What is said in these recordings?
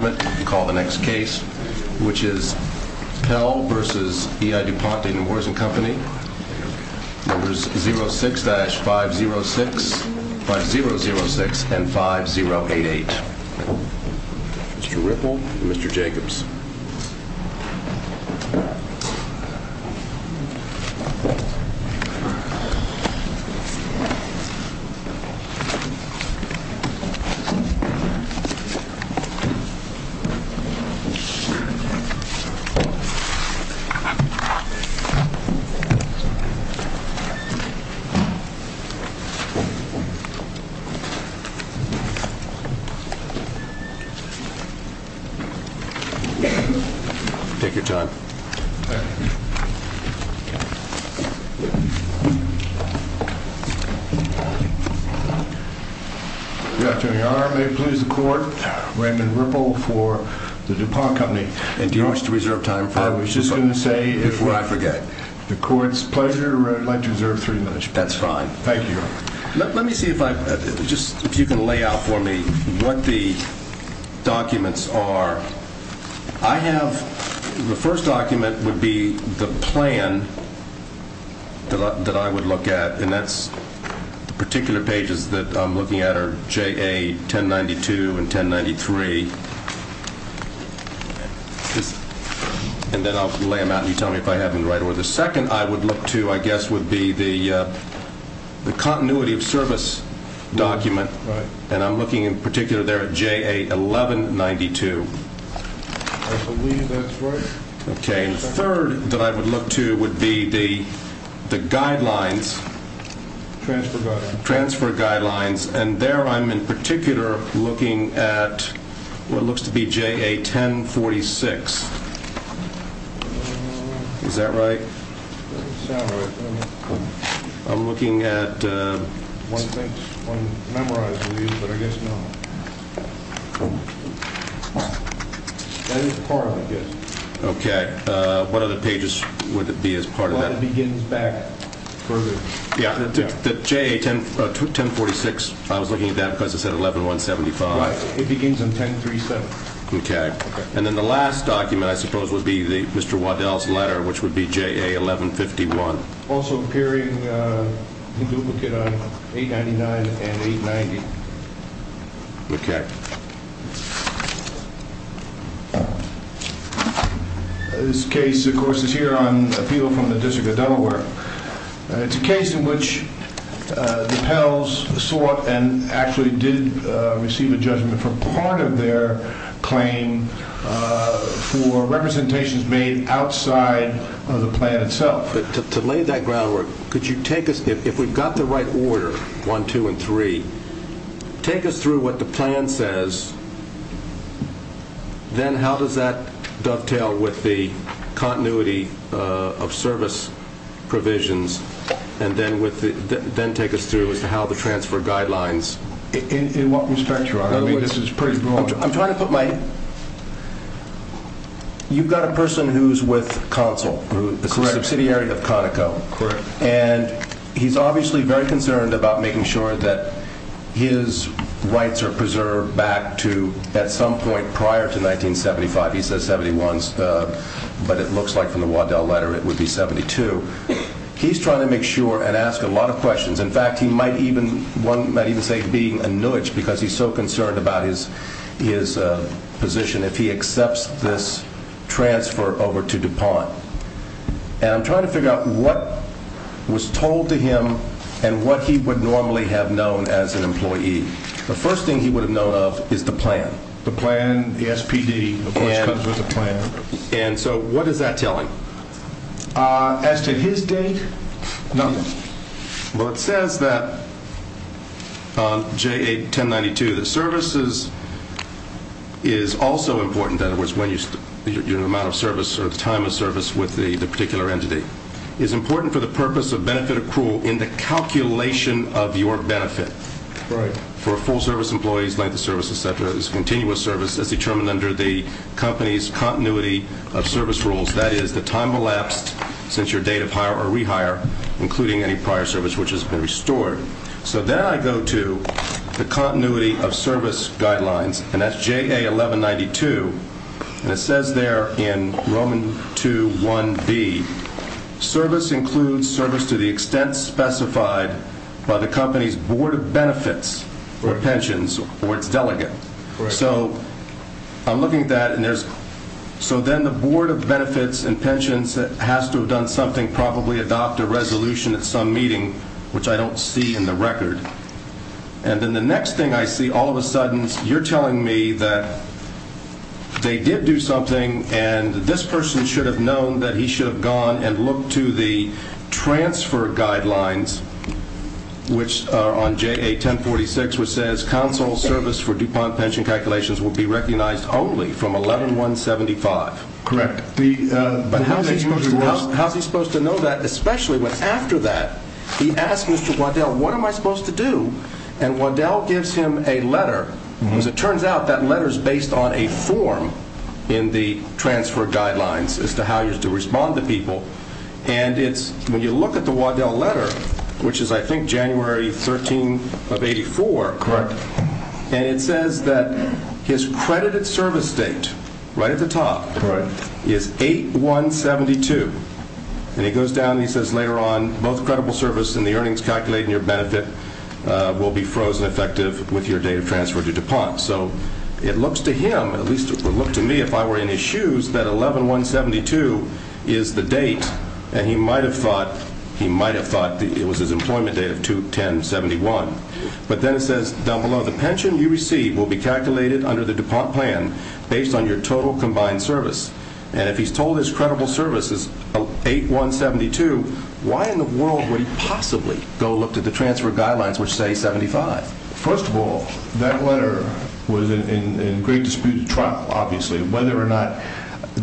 and call the next case, which is Pell v. E.I. DuPont and the Wars and Company, numbers 06-5006 and 5088. Mr. Ripple and Mr. Jacobs. Take your time. Good afternoon, Your Honor. May it please the court, Raymond Ripple for the DuPont Company. And do you wish to reserve time for it? I was just going to say, if the court's pleasure, I'd like to reserve three minutes. That's fine. Thank you, Your Honor. Let me see if you can lay out for me what the documents are. I have, the first document would be the plan that I would look at. And that's the particular pages that I'm looking at are JA 1092 and 1093. And then I'll lay them out and you tell me if I have them right. Or the second I would look to, I guess, would be the continuity of service document. Right. And I'm looking in particular there at JA 1192. I believe that's right. Okay. And the third that I would look to would be the guidelines. Transfer guidelines. Transfer guidelines. And there I'm in particular looking at what looks to be JA 1046. Is that right? That doesn't sound right to me. I'm looking at. One thinks, one memorizes these, but I guess not. That is part of it, I guess. Okay. What other pages would it be as part of that? Well, it begins back further. Yeah. The JA 1046, I was looking at that because it said 11175. Right. It begins on 1037. Okay. And then the last document, I suppose, would be Mr. Waddell's letter, which would be JA 1151. Also appearing in duplicate on 899 and 890. This case, of course, is here on appeal from the District of Delaware. It's a case in which the PELS sought and actually did receive a judgment for part of their claim for representations made outside of the plan itself. But to lay that groundwork, could you take us, if we've got the right order, one, two, and three, take us through what the plan says. Then how does that dovetail with the continuity of service provisions? And then take us through as to how the transfer guidelines. In what respect, Your Honor? I mean, this is pretty broad. I'm trying to put my – you've got a person who's with Consul. Correct. The subsidiary of Conoco. Correct. And he's obviously very concerned about making sure that his rights are preserved back to at some point prior to 1975. He says 71, but it looks like from the Waddell letter it would be 72. He's trying to make sure and ask a lot of questions. In fact, he might even say being a nudge because he's so concerned about his position if he accepts this transfer over to DuPont. And I'm trying to figure out what was told to him and what he would normally have known as an employee. The first thing he would have known of is the plan. The plan, the SPD, of course, comes with a plan. And so what is that telling? As to his date, nothing. Well, it says that on J8-1092 that services is also important. In other words, when you – your amount of service or the time of service with the particular entity. It's important for the purpose of benefit accrual in the calculation of your benefit. Right. For a full service employee's length of service, et cetera, is continuous service as determined under the company's continuity of service rules. That is the time elapsed since your date of hire or rehire, including any prior service which has been restored. So then I go to the continuity of service guidelines, and that's J8-1192. And it says there in Roman 2-1B, service includes service to the extent specified by the company's board of benefits or pensions or its delegate. Right. And so I'm looking at that, and there's – so then the board of benefits and pensions has to have done something, probably adopt a resolution at some meeting, which I don't see in the record. And then the next thing I see, all of a sudden, you're telling me that they did do something, and this person should have known that he should have gone and looked to the transfer guidelines, which are on J8-1046, which says console service for DuPont pension calculations will be recognized only from 11-175. Correct. But how is he supposed to know that, especially when after that he asks Mr. Waddell, what am I supposed to do? And Waddell gives him a letter, and as it turns out, that letter is based on a form in the transfer guidelines as to how you're to respond to people. And it's – when you look at the Waddell letter, which is, I think, January 13 of 84. Correct. And it says that his credited service date, right at the top, is 8-172. And he goes down and he says later on, both credible service and the earnings calculated in your benefit will be frozen effective with your date of transfer to DuPont. So it looks to him, at least it would look to me if I were in his shoes, that 11-172 is the date. And he might have thought – he might have thought it was his employment date of 2-10-71. But then it says down below, the pension you receive will be calculated under the DuPont plan based on your total combined service. And if he's told his credible service is 8-172, why in the world would he possibly go look to the transfer guidelines, which say 75? First of all, that letter was in great dispute with Trump, obviously. Whether or not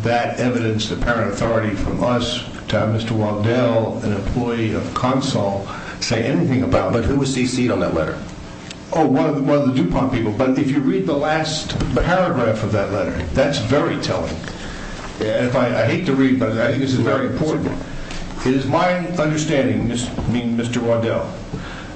that evidenced apparent authority from us to have Mr. Waddell, an employee of Consul, say anything about it. But who was CC'd on that letter? Oh, one of the DuPont people. But if you read the last paragraph of that letter, that's very telling. I hate to read, but I think this is very important. It is my understanding, Mr. Waddell,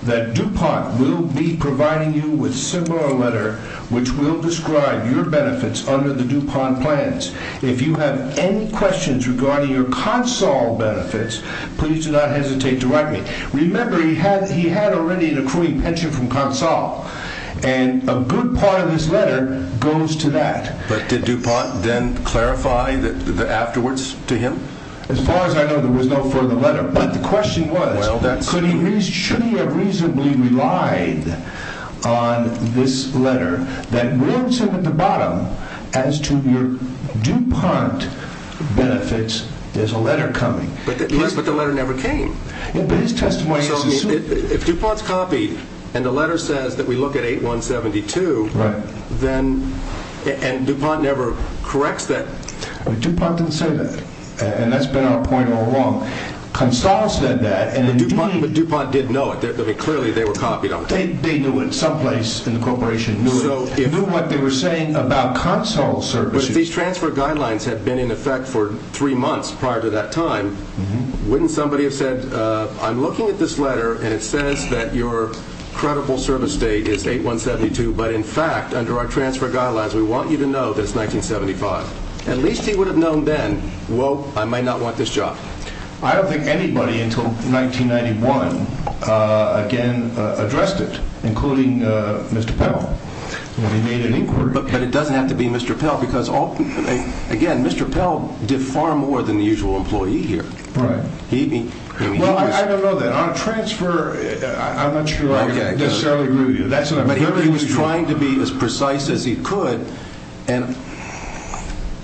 that DuPont will be providing you with similar letter which will describe your benefits under the DuPont plans. If you have any questions regarding your Consul benefits, please do not hesitate to write me. Remember, he had already an accruing pension from Consul. And a good part of his letter goes to that. But did DuPont then clarify the afterwards to him? As far as I know, there was no further letter. But the question was, should he have reasonably relied on this letter that will sit at the bottom as to your DuPont benefits? There's a letter coming. But the letter never came. But his testimony is a suit. If DuPont's copied and the letter says that we look at 8172, and DuPont never corrects that. DuPont didn't say that. And that's been our point all along. Consul said that. But DuPont did know it. Clearly, they were copied. They knew it someplace in the corporation. They knew what they were saying about Consul services. But if these transfer guidelines had been in effect for three months prior to that time, wouldn't somebody have said, I'm looking at this letter, and it says that your credible service date is 8172. But in fact, under our transfer guidelines, we want you to know that it's 1975. At least he would have known then, well, I might not want this job. I don't think anybody until 1991, again, addressed it, including Mr. Pell. When he made an inquiry. But it doesn't have to be Mr. Pell because, again, Mr. Pell did far more than the usual employee here. Right. Well, I don't know that. But he was trying to be as precise as he could. And,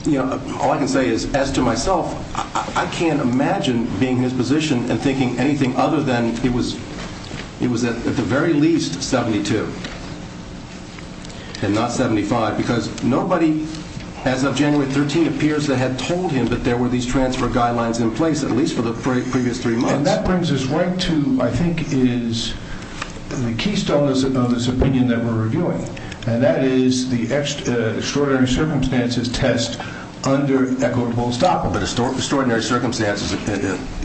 you know, all I can say is, as to myself, I can't imagine being in his position and thinking anything other than it was at the very least 72 and not 75 because nobody as of January 13 appears to have told him that there were these transfer guidelines in place, at least for the previous three months. And that brings us right to, I think, is the keystone of this opinion that we're reviewing, and that is the extraordinary circumstances test under equitable stock. But extraordinary circumstances,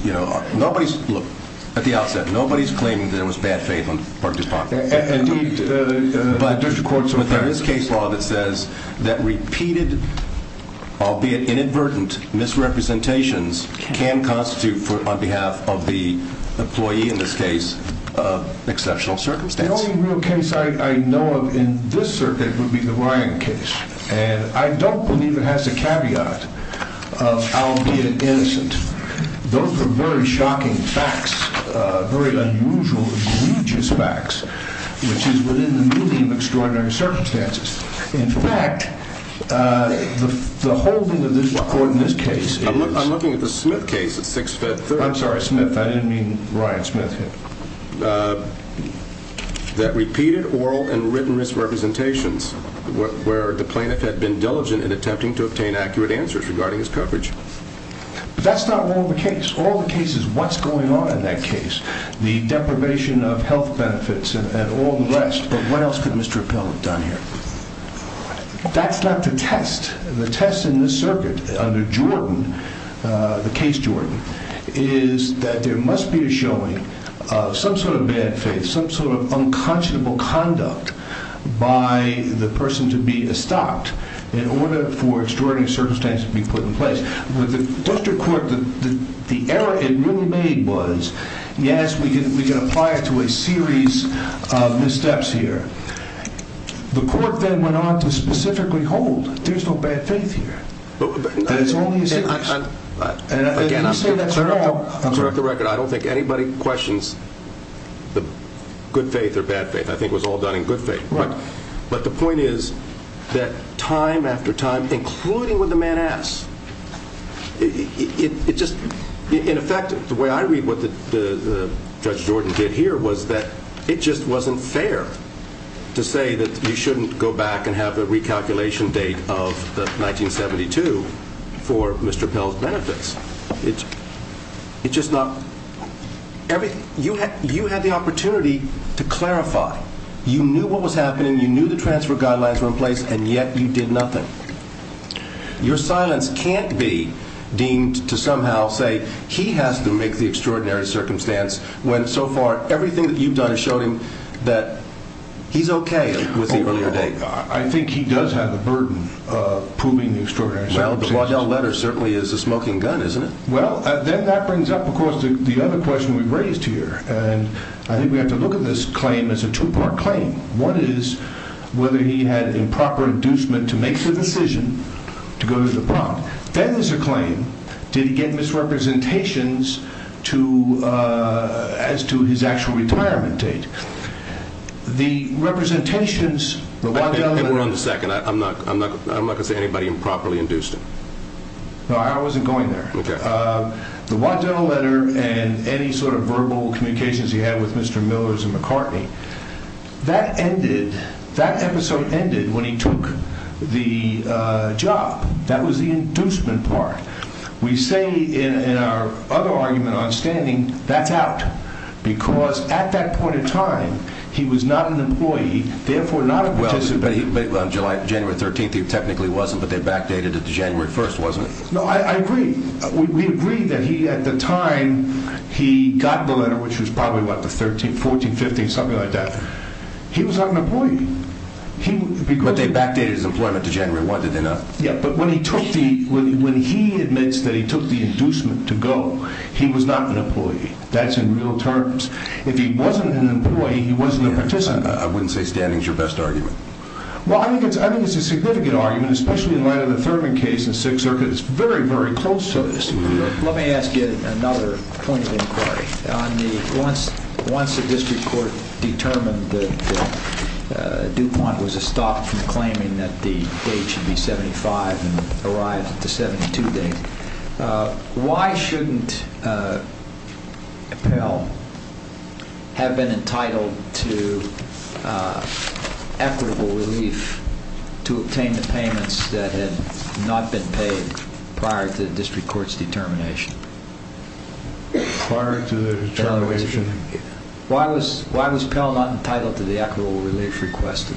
you know, nobody's, look, at the outset, nobody's claiming that it was bad faith on the part of the department. Indeed, the district courts are fair. But there is case law that says that repeated, albeit inadvertent, misrepresentations can constitute, on behalf of the employee in this case, exceptional circumstances. The only real case I know of in this circuit would be the Ryan case. And I don't believe it has a caveat of albeit innocent. Those are very shocking facts, very unusual, egregious facts, which is within the medium of extraordinary circumstances. In fact, the holding of this court in this case is I'm looking at the Smith case at 6 Feb 3rd. I'm sorry, Smith. I didn't mean Ryan Smith here. That repeated oral and written misrepresentations, where the plaintiff had been diligent in attempting to obtain accurate answers regarding his coverage. But that's not all the case. All the case is what's going on in that case. The deprivation of health benefits and all the rest. But what else could Mr. Appell have done here? That's not the test. The test in this circuit under Jordan, the case Jordan, is that there must be a showing of some sort of bad faith, some sort of unconscionable conduct by the person to be estopped in order for extraordinary circumstances to be put in place. With the district court, the error it really made was, yes, we can apply it to a series of missteps here. The court then went on to specifically hold there's no bad faith here. There's only a series. Again, I'm going to correct the record. I don't think anybody questions the good faith or bad faith. I think it was all done in good faith. But the point is that time after time, including what the man asks, it just, in effect, the way I read what Judge Jordan did here was that it just wasn't fair to say that you shouldn't go back and have a recalculation date of 1972 for Mr. Appell's benefits. You had the opportunity to clarify. You knew what was happening, you knew the transfer guidelines were in place, and yet you did nothing. Your silence can't be deemed to somehow say he has to make the extraordinary circumstance when so far everything that you've done has shown him that he's okay with the earlier date. I think he does have the burden of proving the extraordinary circumstance. Well, the Waddell letter certainly is a smoking gun, isn't it? Well, then that brings up, of course, the other question we've raised here. I think we have to look at this claim as a two-part claim. One is whether he had improper inducement to make the decision to go to the Bronx. Then there's a claim, did he get misrepresentations as to his actual retirement date? We're on the second. I'm not going to say anybody improperly induced him. No, I wasn't going there. The Waddell letter and any sort of verbal communications he had with Mr. Millers and McCartney, that episode ended when he took the job. That was the inducement part. We say in our other argument on standing, that's out. Because at that point in time, he was not an employee, therefore not a participant. On January 13th, he technically wasn't, but they backdated it to January 1st, wasn't it? No, I agree. We agree that at the time he got the letter, which was probably, what, the 13th, 14th, 15th, something like that, he was not an employee. But they backdated his employment to January 1st, did they not? Yeah, but when he admits that he took the inducement to go, he was not an employee. That's in real terms. If he wasn't an employee, he wasn't a participant. I wouldn't say standing is your best argument. Well, I think it's a significant argument, especially in light of the Thurman case and Sixth Circuit. It's very, very close to us. Let me ask you another point of inquiry. Once the district court determined that DuPont was a stop from claiming that the date should be 75 and arrived at the 72 date, why shouldn't Appel have been entitled to equitable relief to obtain the payments that had not been paid prior to the district court's determination? Prior to the determination? Why was Appel not entitled to the equitable relief requested,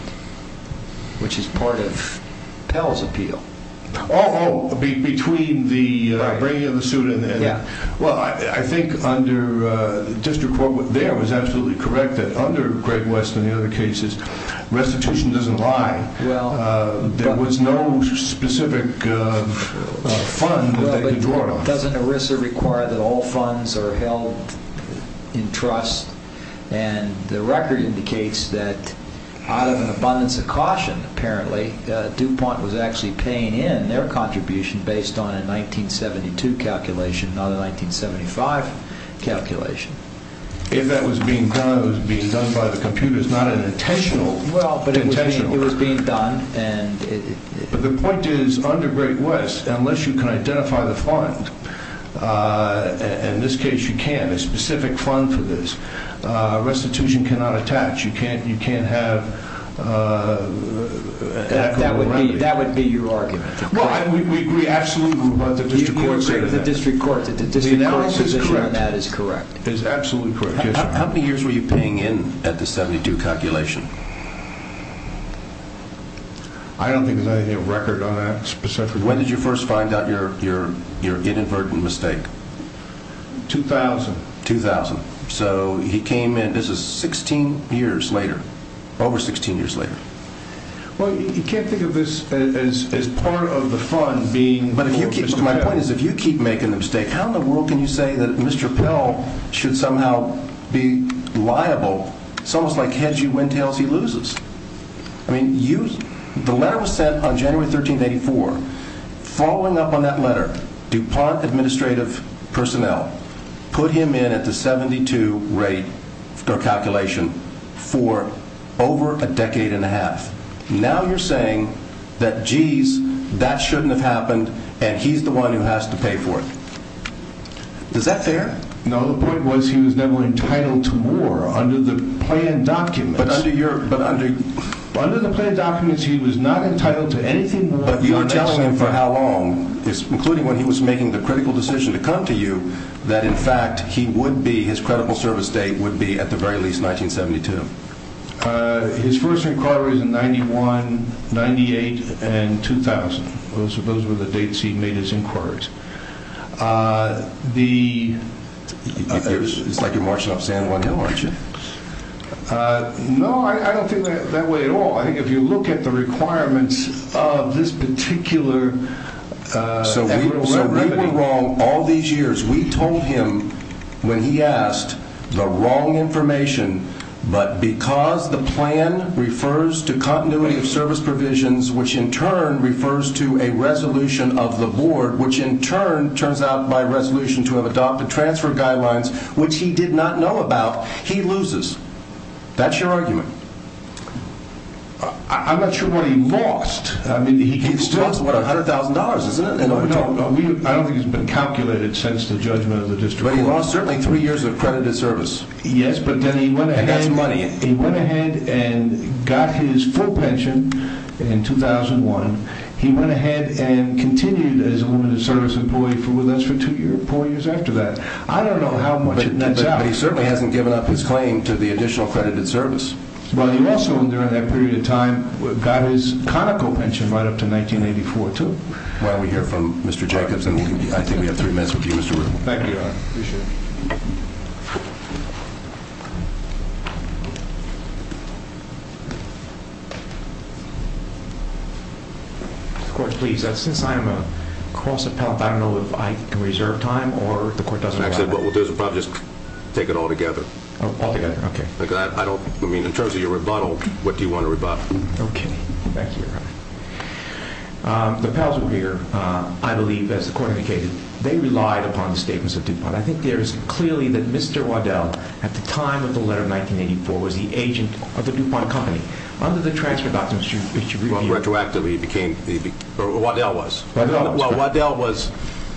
which is part of Appel's appeal? Oh, between the bringing of the suit and the... Yeah. Well, I think under the district court there was absolutely correct that under Greg West and the other cases, restitution doesn't lie. There was no specific fund that they had brought on. Doesn't ERISA require that all funds are held in trust? And the record indicates that out of an abundance of caution, apparently, DuPont was actually paying in their contribution based on a 1972 calculation, not a 1975 calculation. If that was being done, it was being done by the computers, not an intentional... Well, but it was being done and... But the point is, under Greg West, unless you can identify the fund, and in this case you can't, a specific fund for this, restitution cannot attach. You can't have equitable remedy. That would be your argument. Well, we absolutely agree with what the district court said. The analysis is correct. That is correct. It is absolutely correct. How many years were you paying in at the 72 calculation? I don't think there's anything on record on that specifically. When did you first find out your inadvertent mistake? 2000. 2000. So he came in, this is 16 years later, over 16 years later. Well, you can't think of this as part of the fund being Mr. Pell. But my point is, if you keep making the mistake, how in the world can you say that Mr. Pell should somehow be liable? It's almost like hedgy windtails he loses. I mean, the letter was sent on January 13, 1984. Following up on that letter, DuPont administrative personnel put him in at the 72 rate calculation for over a decade and a half. Now you're saying that, geez, that shouldn't have happened, and he's the one who has to pay for it. Is that fair? No, the point was he was never entitled to war under the planned documents. Under the planned documents, he was not entitled to anything. But you were telling him for how long, including when he was making the critical decision to come to you, that, in fact, his credible service date would be at the very least 1972. His first inquiries were in 91, 98, and 2000. Those were the dates he made his inquiries. It's like you're marching up San Juan Hill, aren't you? No, I don't think that way at all. I think if you look at the requirements of this particular So we were wrong all these years. We told him when he asked the wrong information, but because the plan refers to continuity of service provisions, which in turn refers to a resolution of the board, which in turn turns out by resolution to have adopted transfer guidelines, which he did not know about, he loses. That's your argument. I'm not sure what he lost. He still has, what, $100,000, isn't it? No, I don't think it's been calculated since the judgment of the district. But he lost certainly three years of credited service. Yes, but then he went ahead and got his full pension in 2001. He went ahead and continued as a limited service employee with us for four years after that. I don't know how much it nets out. But he certainly hasn't given up his claim to the additional credited service. Well, he also, during that period of time, got his conical pension right up to 1984, too. Well, we hear from Mr. Jacobs, and I think we have three minutes with you, Mr. Reuben. Thank you, Your Honor. Appreciate it. Of course, please, since I'm a cross appellate, I don't know if I can reserve time or if the court doesn't allow that. Actually, what we'll do is we'll probably just take it all together. All together, okay. Because I don't, I mean, in terms of your rebuttal, what do you want to rebut? Okay. Thank you, Your Honor. The pals were here, I believe, as the court indicated. They relied upon the statements of DuPont. I think there is clearly that Mr. Waddell, at the time of the letter of 1984, was the agent of the DuPont company. Under the transfer document, Mr. Reuben. Retroactively, he became, or Waddell was. Waddell was. Well, Waddell was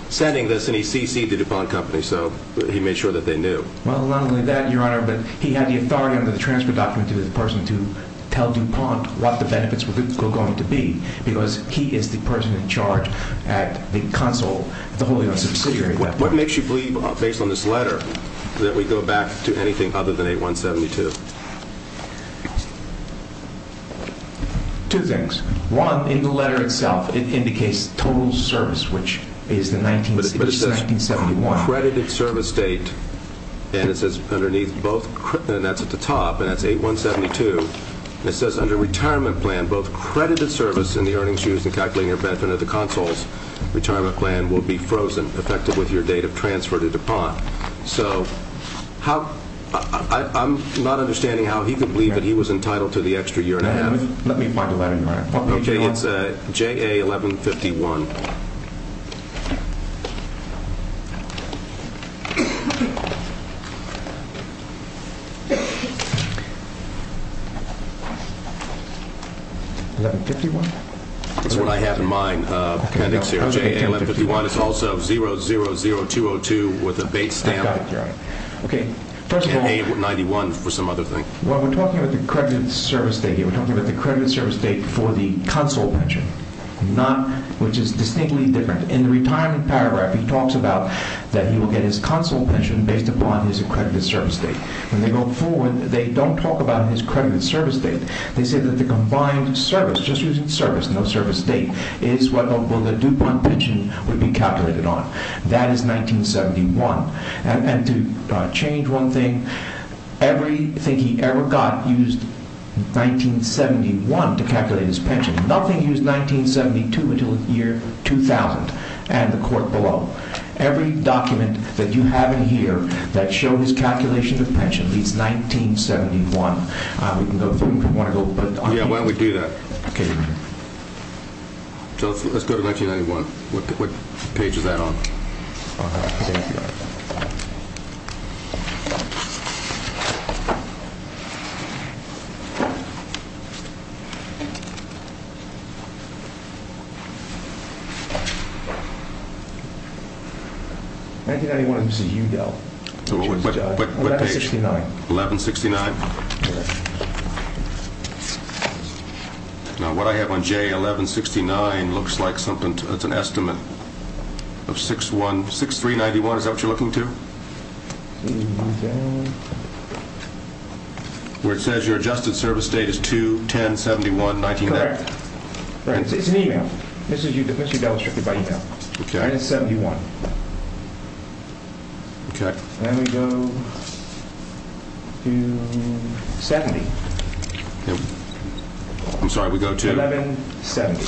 sending this, and he CC'd the DuPont company, so he made sure that they knew. Well, not only that, Your Honor, but he had the authority under the transfer document to the person to tell DuPont what the benefits were going to be, because he is the person in charge at the console, the holding of the subsidiary at that point. What makes you believe, based on this letter, that we go back to anything other than 8172? Two things. One, in the letter itself, it indicates total service, which is the 1976 or 1971. But it says credited service date, and it says underneath both, and that's at the top, and that's 8172. It says under retirement plan, both credited service in the earnings used in calculating your benefit under the console's retirement plan will be frozen, effective with your date of transfer to DuPont. So I'm not understanding how he could believe that he was entitled to the extra year and a half. Let me find the letter, Your Honor. Okay, it's JA 1151. 1151? That's what I have in mind. It's also 000202 with a bait stamp. I got it, Your Honor. First of all, we're talking about the credited service date here. We're talking about the credited service date for the console pension, which is distinctly different. In the retirement paragraph, he talks about that he will get his console pension based upon his accredited service date. When they go forward, they don't talk about his credited service date. They say that the combined service, just using service, no service date, is what the DuPont pension would be calculated on. That is 1971. And to change one thing, everything he ever got used 1971 to calculate his pension. Nothing used 1972 until the year 2000 and the court below. Every document that you have in here that shows his calculation of pension reads 1971. Yeah, why don't we do that? Okay, Your Honor. Let's go to 1991. What page is that on? Okay, thank you. What page? 1169. 1169? Yes. Now, what I have on J1169 looks like something that's an estimate of 6391. Is that what you're looking to? Where it says your adjusted service date is 210-71-1990. Correct. Right, it's an email. This is demonstrated by email. Okay. And it's 71. Okay. And we go to 70. I'm sorry, we go to? 1170.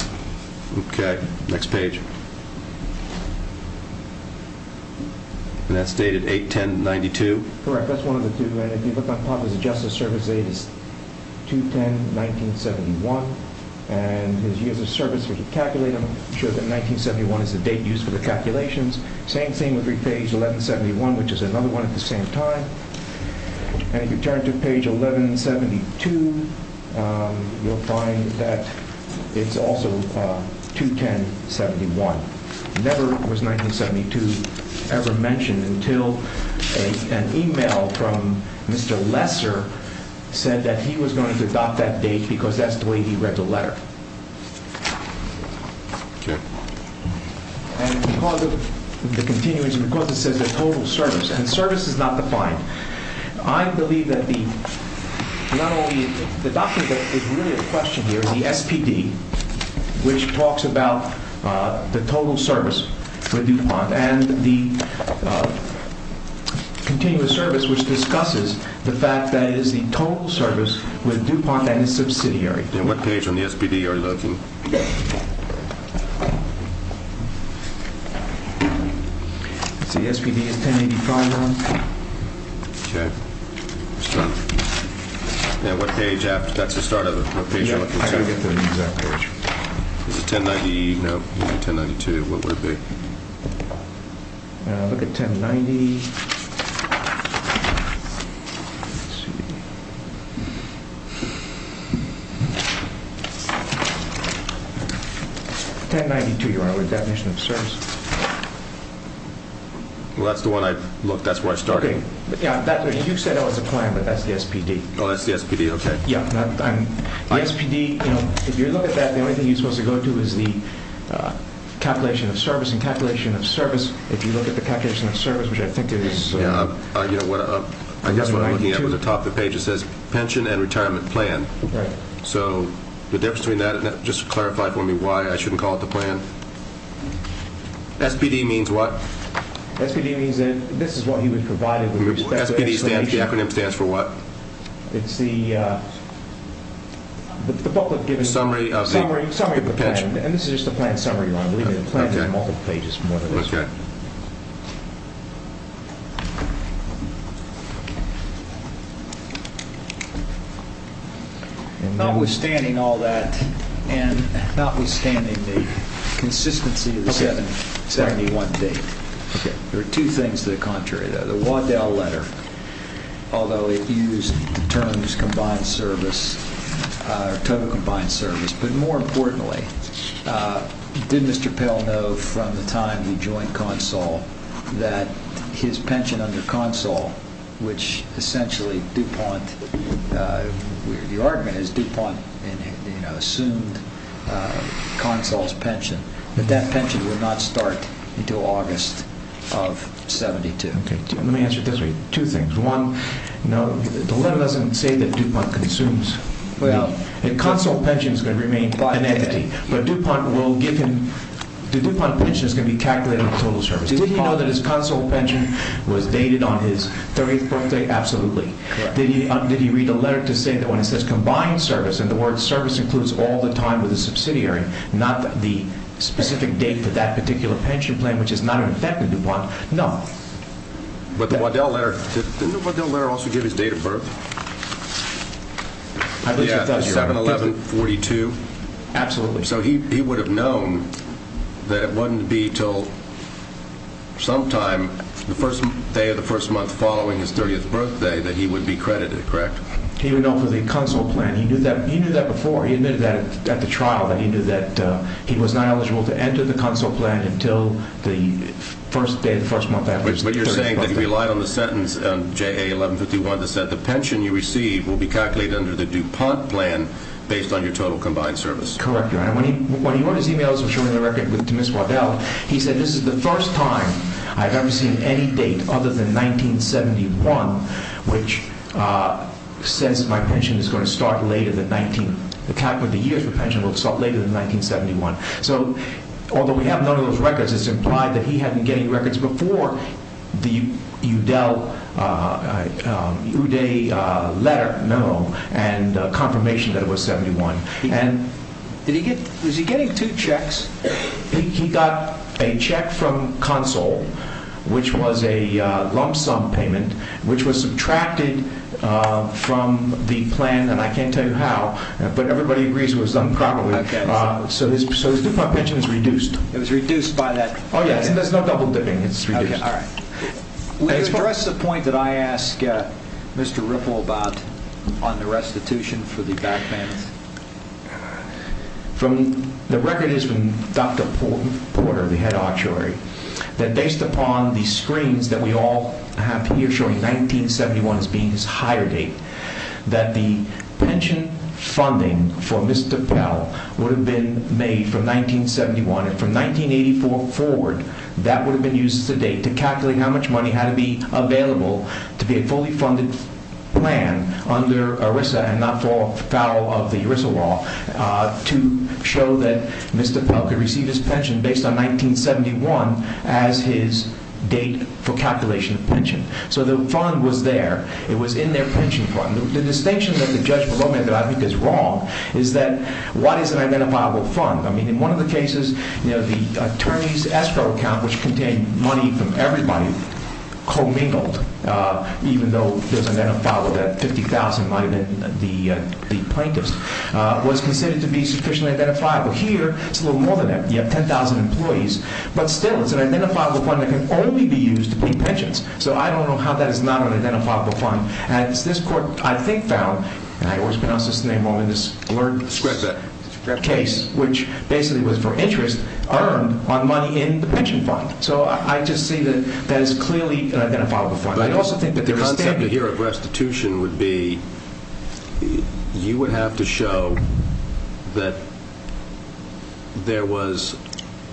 Okay, next page. And that's dated 8-10-92? Correct, that's one of the two. And if you look on top, his adjusted service date is 210-1971. And his years of service, if you calculate them, shows that 1971 is the date used for the calculations. Same thing with page 1171, which is another one at the same time. And if you turn to page 1172, you'll find that it's also 210-71. Never was 1972 ever mentioned until an email from Mr. Lesser said that he was going to adopt that date because that's the way he read the letter. Okay. And because of the continuance and because it says the total service, and service is not defined, I believe that the document that is really at question here is the SPD, which talks about the total service with DuPont, and the continuous service, which discusses the fact that it is the total service with DuPont that is subsidiary. And what page on the SPD are you looking? Let's see. The SPD is 1085, Ron. Okay. Now, what page? That's the start of it. What page are you looking at? I can't get to the exact page. Is it 1090? No. It would be 1092. What would it be? I'll look at 1090. Let's see. 1092, your definition of service. Well, that's the one I've looked. That's where I started. Okay. Yeah, you said that was the plan, but that's the SPD. Oh, that's the SPD. Okay. Yeah. The SPD, you know, if you look at that, the only thing you're supposed to go to is the calculation of service and calculation of service. If you look at the calculation of service, which I think it is. Yeah. I guess what I'm looking at was the top of the page that says pension and retirement plan. Right. So the difference between that and that, just clarify for me why I shouldn't call it the plan. SPD means what? SPD means that this is what he would provide with respect to explanation. The acronym stands for what? It's the booklet given to you. Summary of the pension. Summary of the plan. And this is just the plan summary, Ron. Okay. You can see that there's multiple pages from what it looks like. Okay. And notwithstanding all that, and notwithstanding the consistency of the 271 date, there are two things that are contrary. The Waddell letter, although it used the terms combined service, total combined service, but more importantly, did Mr. Pell know from the time he joined Consul that his pension under Consul, which essentially DuPont, the argument is DuPont assumed Consul's pension, that that pension would not start until August of 72. Okay. Let me answer it this way. Two things. One, no, the letter doesn't say that DuPont consumes. Well. And Consul pension is going to remain an entity, but DuPont will give him, the DuPont pension is going to be calculated in total service. Did he know that his Consul pension was dated on his 30th birthday? Absolutely. Correct. Did he read the letter to say that when it says combined service, and the word service includes all the time with a subsidiary, not the specific date for that particular pension plan, which is not in effect with DuPont, no. But the Waddell letter, didn't the Waddell letter also give his date of birth? I believe it does, Your Honor. 7-11-42? Absolutely. So he would have known that it wouldn't be until sometime, the first day of the first month following his 30th birthday, that he would be credited, correct? He would know for the Consul plan. He knew that before. He admitted that at the trial, that he knew that he was not eligible to enter the Consul plan until the first day of the first month after his 30th birthday. But you're saying that he relied on the sentence, JA-1151, that said, the pension you receive will be calculated under the DuPont plan, based on your total combined service. Correct, Your Honor. When he wrote his e-mails, which are in the record, to Ms. Waddell, he said, this is the first time I've ever seen any date other than 1971, which says my pension is going to start later than 19, the year for pension will start later than 1971. So although we have none of those records, it's implied that he hadn't getting records before the Uday letter, no, and confirmation that it was 71. And did he get, was he getting two checks? He got a check from Consul, which was a lump sum payment, which was subtracted from the plan and I can't tell you how, but everybody agrees it was done properly. So his DuPont pension is reduced. It was reduced by that? Oh yeah. There's no double dipping. It's reduced. Okay. All right. We address the point that I asked Mr. Ripple about on the restitution for the back payments. The record is from Dr. Porter, the head actuary, that based upon the screens that we all have here showing 1971 as being his higher date, that the pension funding for Mr. Powell would have been made from 1971 and from 1984 forward, that would have been used as a date to calculate how much money had to be available to be a fully funded plan under ERISA and not for foul of the ERISA law to show that Mr. Powell could receive his pension based on 1971 as his date for calculation of pension. So the fund was there. It was in their pension fund. The distinction that the judge below me that I think is wrong is that what is an identifiable fund? I mean, in one of the cases, you know, the attorney's escrow account, which contained money from everybody, commingled, even though there's an identifiable debt, 50,000 might have been the plaintiffs, was considered to be sufficiently identifiable. Here it's a little more than that. You have 10,000 employees, but still it's an identifiable fund that can only be used to pay pensions. So I don't know how that is not an identifiable fund. As this court, I think, found, and I always pronounce this name wrong in this case, which basically was for interest earned on money in the pension fund. So I just see that that is clearly an identifiable fund. I also think that the concept here of restitution would be you would have to show that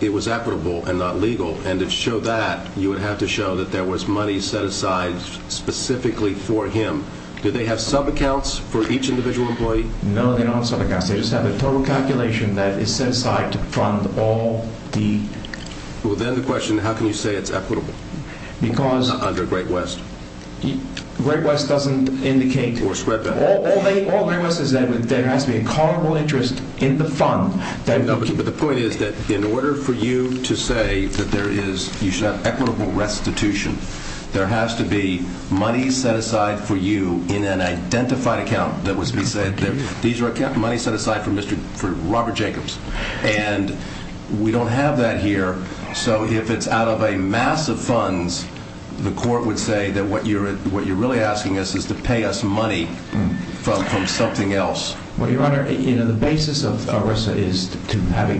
it was equitable and not legal, and to show that, you would have to show that there was money set aside specifically for him. Do they have sub-accounts for each individual employee? No, they don't have sub-accounts. They just have a total calculation that is set aside to fund all the... Well, then the question, how can you say it's equitable? Because... Under Great West. Great West doesn't indicate... Or spread that out. All Great West says is that there has to be an equitable interest in the fund that... There has to be money set aside for you in an identified account that was beset there. These are money set aside for Robert Jacobs, and we don't have that here. So if it's out of a mass of funds, the court would say that what you're really asking us is to pay us money from something else. Well, Your Honor, the basis of ERISA is to have a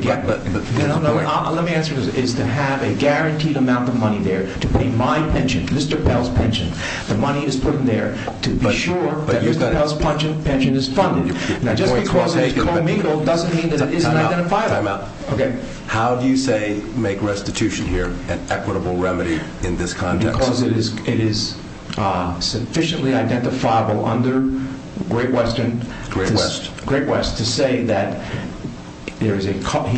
guaranteed amount of money there. To pay my pension, Mr. Pell's pension. The money is put in there to be sure that Mr. Pell's pension is funded. Now, just because it's co-mingled doesn't mean that it isn't identifiable. Time out. How do you say make restitution here an equitable remedy in this context? Because it is sufficiently identifiable under Great West to say that he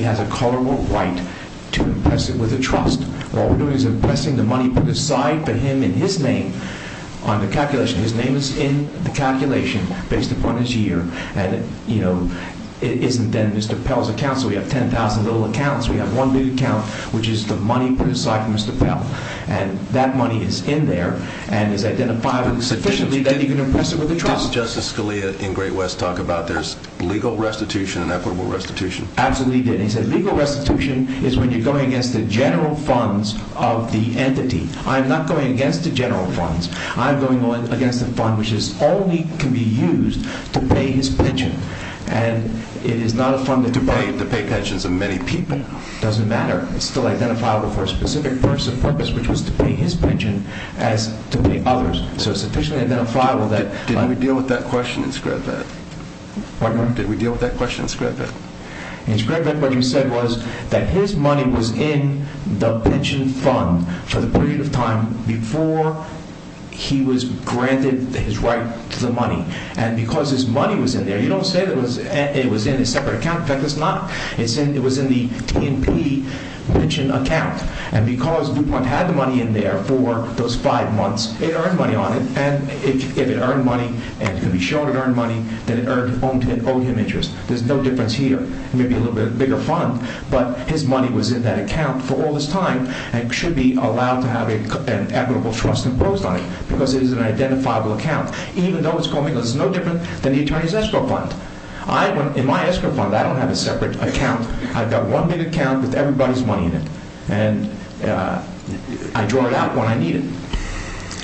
has a colorable right to impress it with a trust. What we're doing is impressing the money put aside for him in his name on the calculation. His name is in the calculation based upon his year. And it isn't then Mr. Pell's account, so we have 10,000 little accounts. We have one new account, which is the money put aside for Mr. Pell. And that money is in there and is identifiable sufficiently that you can impress it with a trust. Did Justice Scalia in Great West talk about there's legal restitution and equitable restitution? Absolutely, he did. And he said legal restitution is when you're going against the general funds of the entity. I'm not going against the general funds. I'm going against the fund, which is only can be used to pay his pension. And it is not a fund that to pay the pay pensions of many people doesn't matter. It's still identifiable for a specific purpose of purpose, which was to pay his pension as to pay others. So it's sufficiently identifiable that- Did we deal with that question in Scriabin? Pardon? Did we deal with that question in Scriabin? In Scriabin, what he said was that his money was in the pension fund for the period of time before he was granted his right to the money. And because his money was in there, you don't say that it was in a separate account. In fact, it's not. It was in the T&P pension account. And because DuPont had the money in there for those five months, it earned money on it. And if it earned money and could be shown it earned money, then it owed him interest. There's no difference here. It may be a little bit bigger fund, but his money was in that account for all this time and should be allowed to have an equitable trust imposed on it because it is an identifiable account. Even though it's coming, it's no different than the attorney's escrow fund. In my escrow fund, I don't have a separate account. I've got one big account with everybody's money in it and I draw it out when I need it.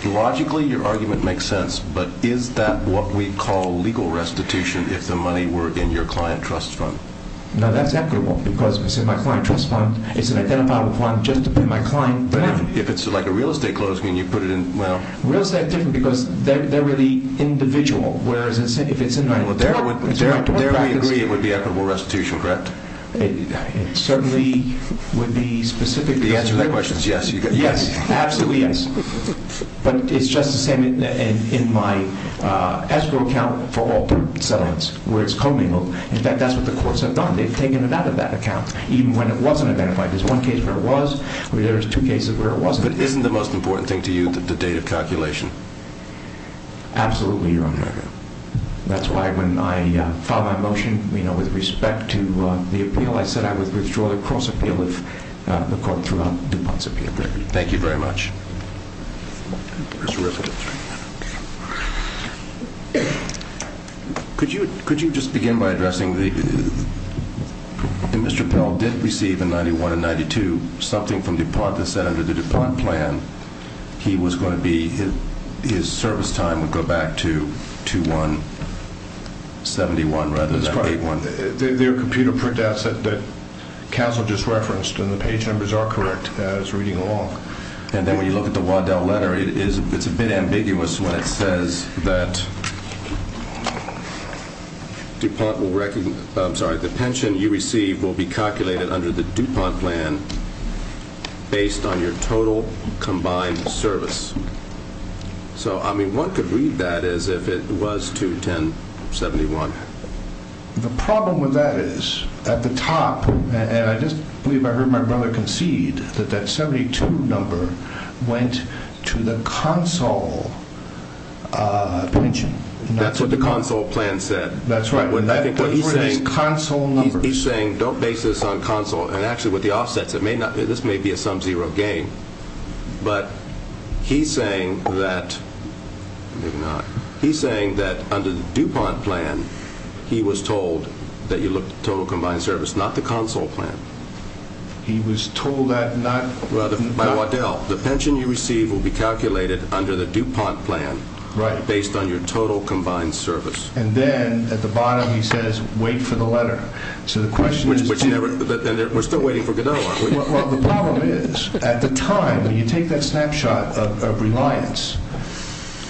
Logically, your argument makes sense, but is that what we call legal restitution if the money were in your client trust fund? No, that's equitable because if it's in my client trust fund, it's an identifiable fund just to pay my client directly. If it's like a real estate closing and you put it in, well... Real estate is different because they're really individual, whereas if it's in my DuPont practice... There we agree it would be equitable restitution, correct? It certainly would be specific to the... The answer to that question is yes. Yes. Absolutely yes. But it's just the same in my escrow account for all three settlements, where it's commingled. In fact, that's what the courts have done. They've taken it out of that account, even when it wasn't identified. There's one case where it was, there's two cases where it wasn't. But isn't the most important thing to you the date of calculation? Absolutely, Your Honor. That's why when I filed my motion with respect to the appeal, I said I would withdraw the cross appeal of the court throughout DuPont's appeal. Thank you very much. Could you just begin by addressing, Mr. Pell did receive a 91 and 92, something from DuPont that said under the DuPont plan, he was going to be... His service time would go back to 2-1-71, rather than 8-1-0. Their computer printout said that Castle just referenced, and the page numbers are correct, it's reading along. And then when you look at the Waddell letter, it's a bit ambiguous when it says that DuPont will... I'm sorry, the pension you receive will be calculated under the DuPont plan, based on your total combined service. So I mean, one could read that as if it was 2-10-71. The problem with that is, at the top, and I just believe I heard my brother concede that that 72 number went to the console pension. That's what the console plan said. That's right. He's saying, don't base this on console, and actually with the offsets, this may be a sum saying that, maybe not, he's saying that under the DuPont plan, he was told that you look at the total combined service, not the console plan. He was told that not... By Waddell, the pension you receive will be calculated under the DuPont plan, based on your total combined service. And then, at the bottom, he says, wait for the letter. So the question is... Which never... We're still waiting for Godot, aren't we? Well, the problem is, at the time, when you take that snapshot of reliance,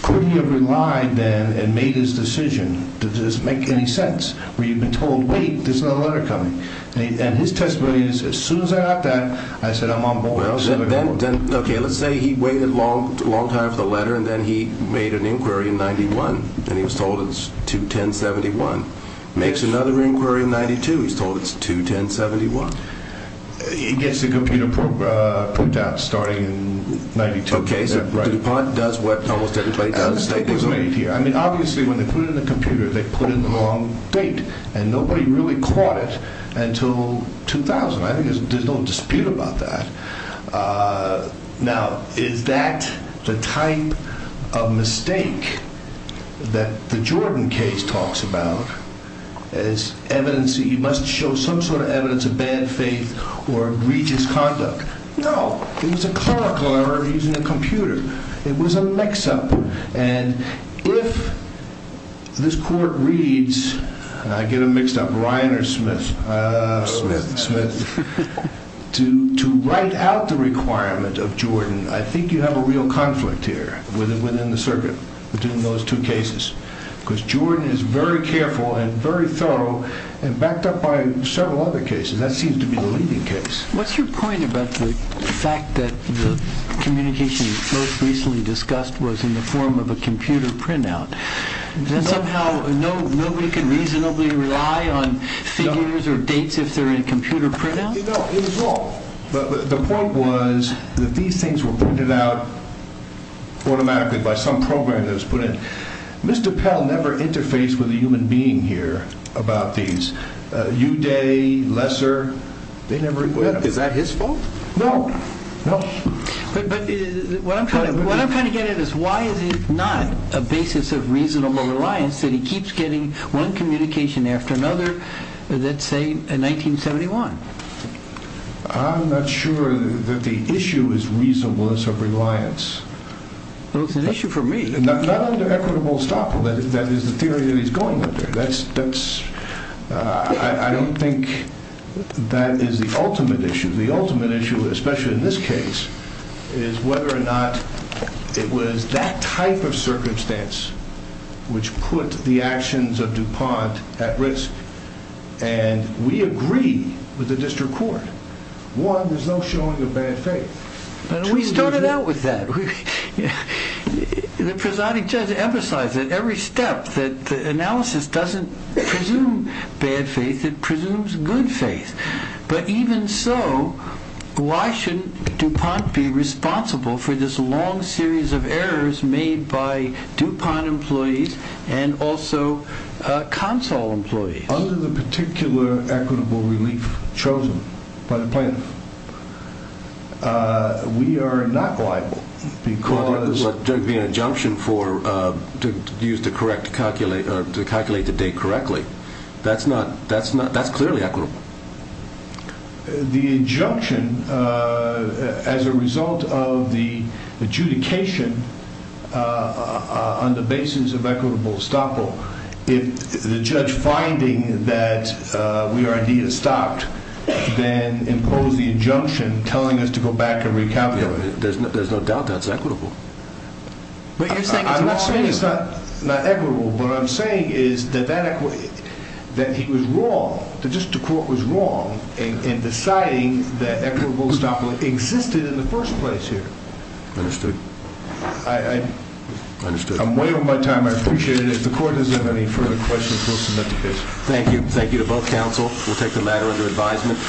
could he have relied then and made his decision? Did this make any sense? Where you've been told, wait, there's another letter coming. And his testimony is, as soon as I got that, I said, I'm on board. Well, then, okay, let's say he waited a long time for the letter, and then he made an inquiry in 91, and he was told it's 2-10-71. Makes another inquiry in 92, he's told it's 2-10-71. It gets the computer put down, starting in 92. Okay, so DuPont does what almost everybody does. I mean, obviously, when they put it in the computer, they put in the wrong date, and nobody really caught it until 2000. I think there's no dispute about that. Now, is that the type of mistake that the Jordan case talks about, is evidence... It must show some sort of evidence of bad faith or egregious conduct. No, it was a clerical error using a computer. It was a mix-up. And if this court reads, and I get them mixed up, Ryan or Smith? Smith. Smith. To write out the requirement of Jordan, I think you have a real conflict here within the circuit between those two cases, because Jordan is very careful and very thorough and backed up by several other cases. That seems to be the leading case. What's your point about the fact that the communication you most recently discussed was in the form of a computer printout? That somehow nobody can reasonably rely on figures or dates if they're in computer printouts? No, it was wrong. The point was that these things were printed out automatically by some program that was put in. Mr. Pell never interfaced with a human being here about these. Uday, Lesser, they never... Is that his fault? No. No. But what I'm trying to get at is why is it not a basis of reasonable reliance that he keeps getting one communication after another, let's say, in 1971? I'm not sure that the issue is reasonableness of reliance. Well, it's an issue for me. Not under equitable stop, that is the theory that he's going under. I don't think that is the ultimate issue. The ultimate issue, especially in this case, is whether or not it was that type of circumstance which put the actions of DuPont at risk, and we agree with the district court. One, there's no showing of bad faith. We started out with that. The presiding judge emphasized at every step that the analysis doesn't presume bad faith, it presumes good faith. But even so, why shouldn't DuPont be responsible for this long series of errors made by DuPont employees and also Consul employees? Under the particular equitable relief chosen by the plaintiff, we are not liable because There would be an injunction to use the correct calculator to calculate the date correctly. That's clearly equitable. The injunction, as a result of the adjudication on the basis of equitable stop, if the judge is finding that we are indeed stopped, then impose the injunction telling us to go back and recalculate. There's no doubt that's equitable. I'm not saying it's not equitable, but what I'm saying is that he was wrong, the district court was wrong in deciding that equitable stop existed in the first place here. Understood. I'm way over my time, I appreciate it. If the court doesn't have any further questions, we'll submit the case.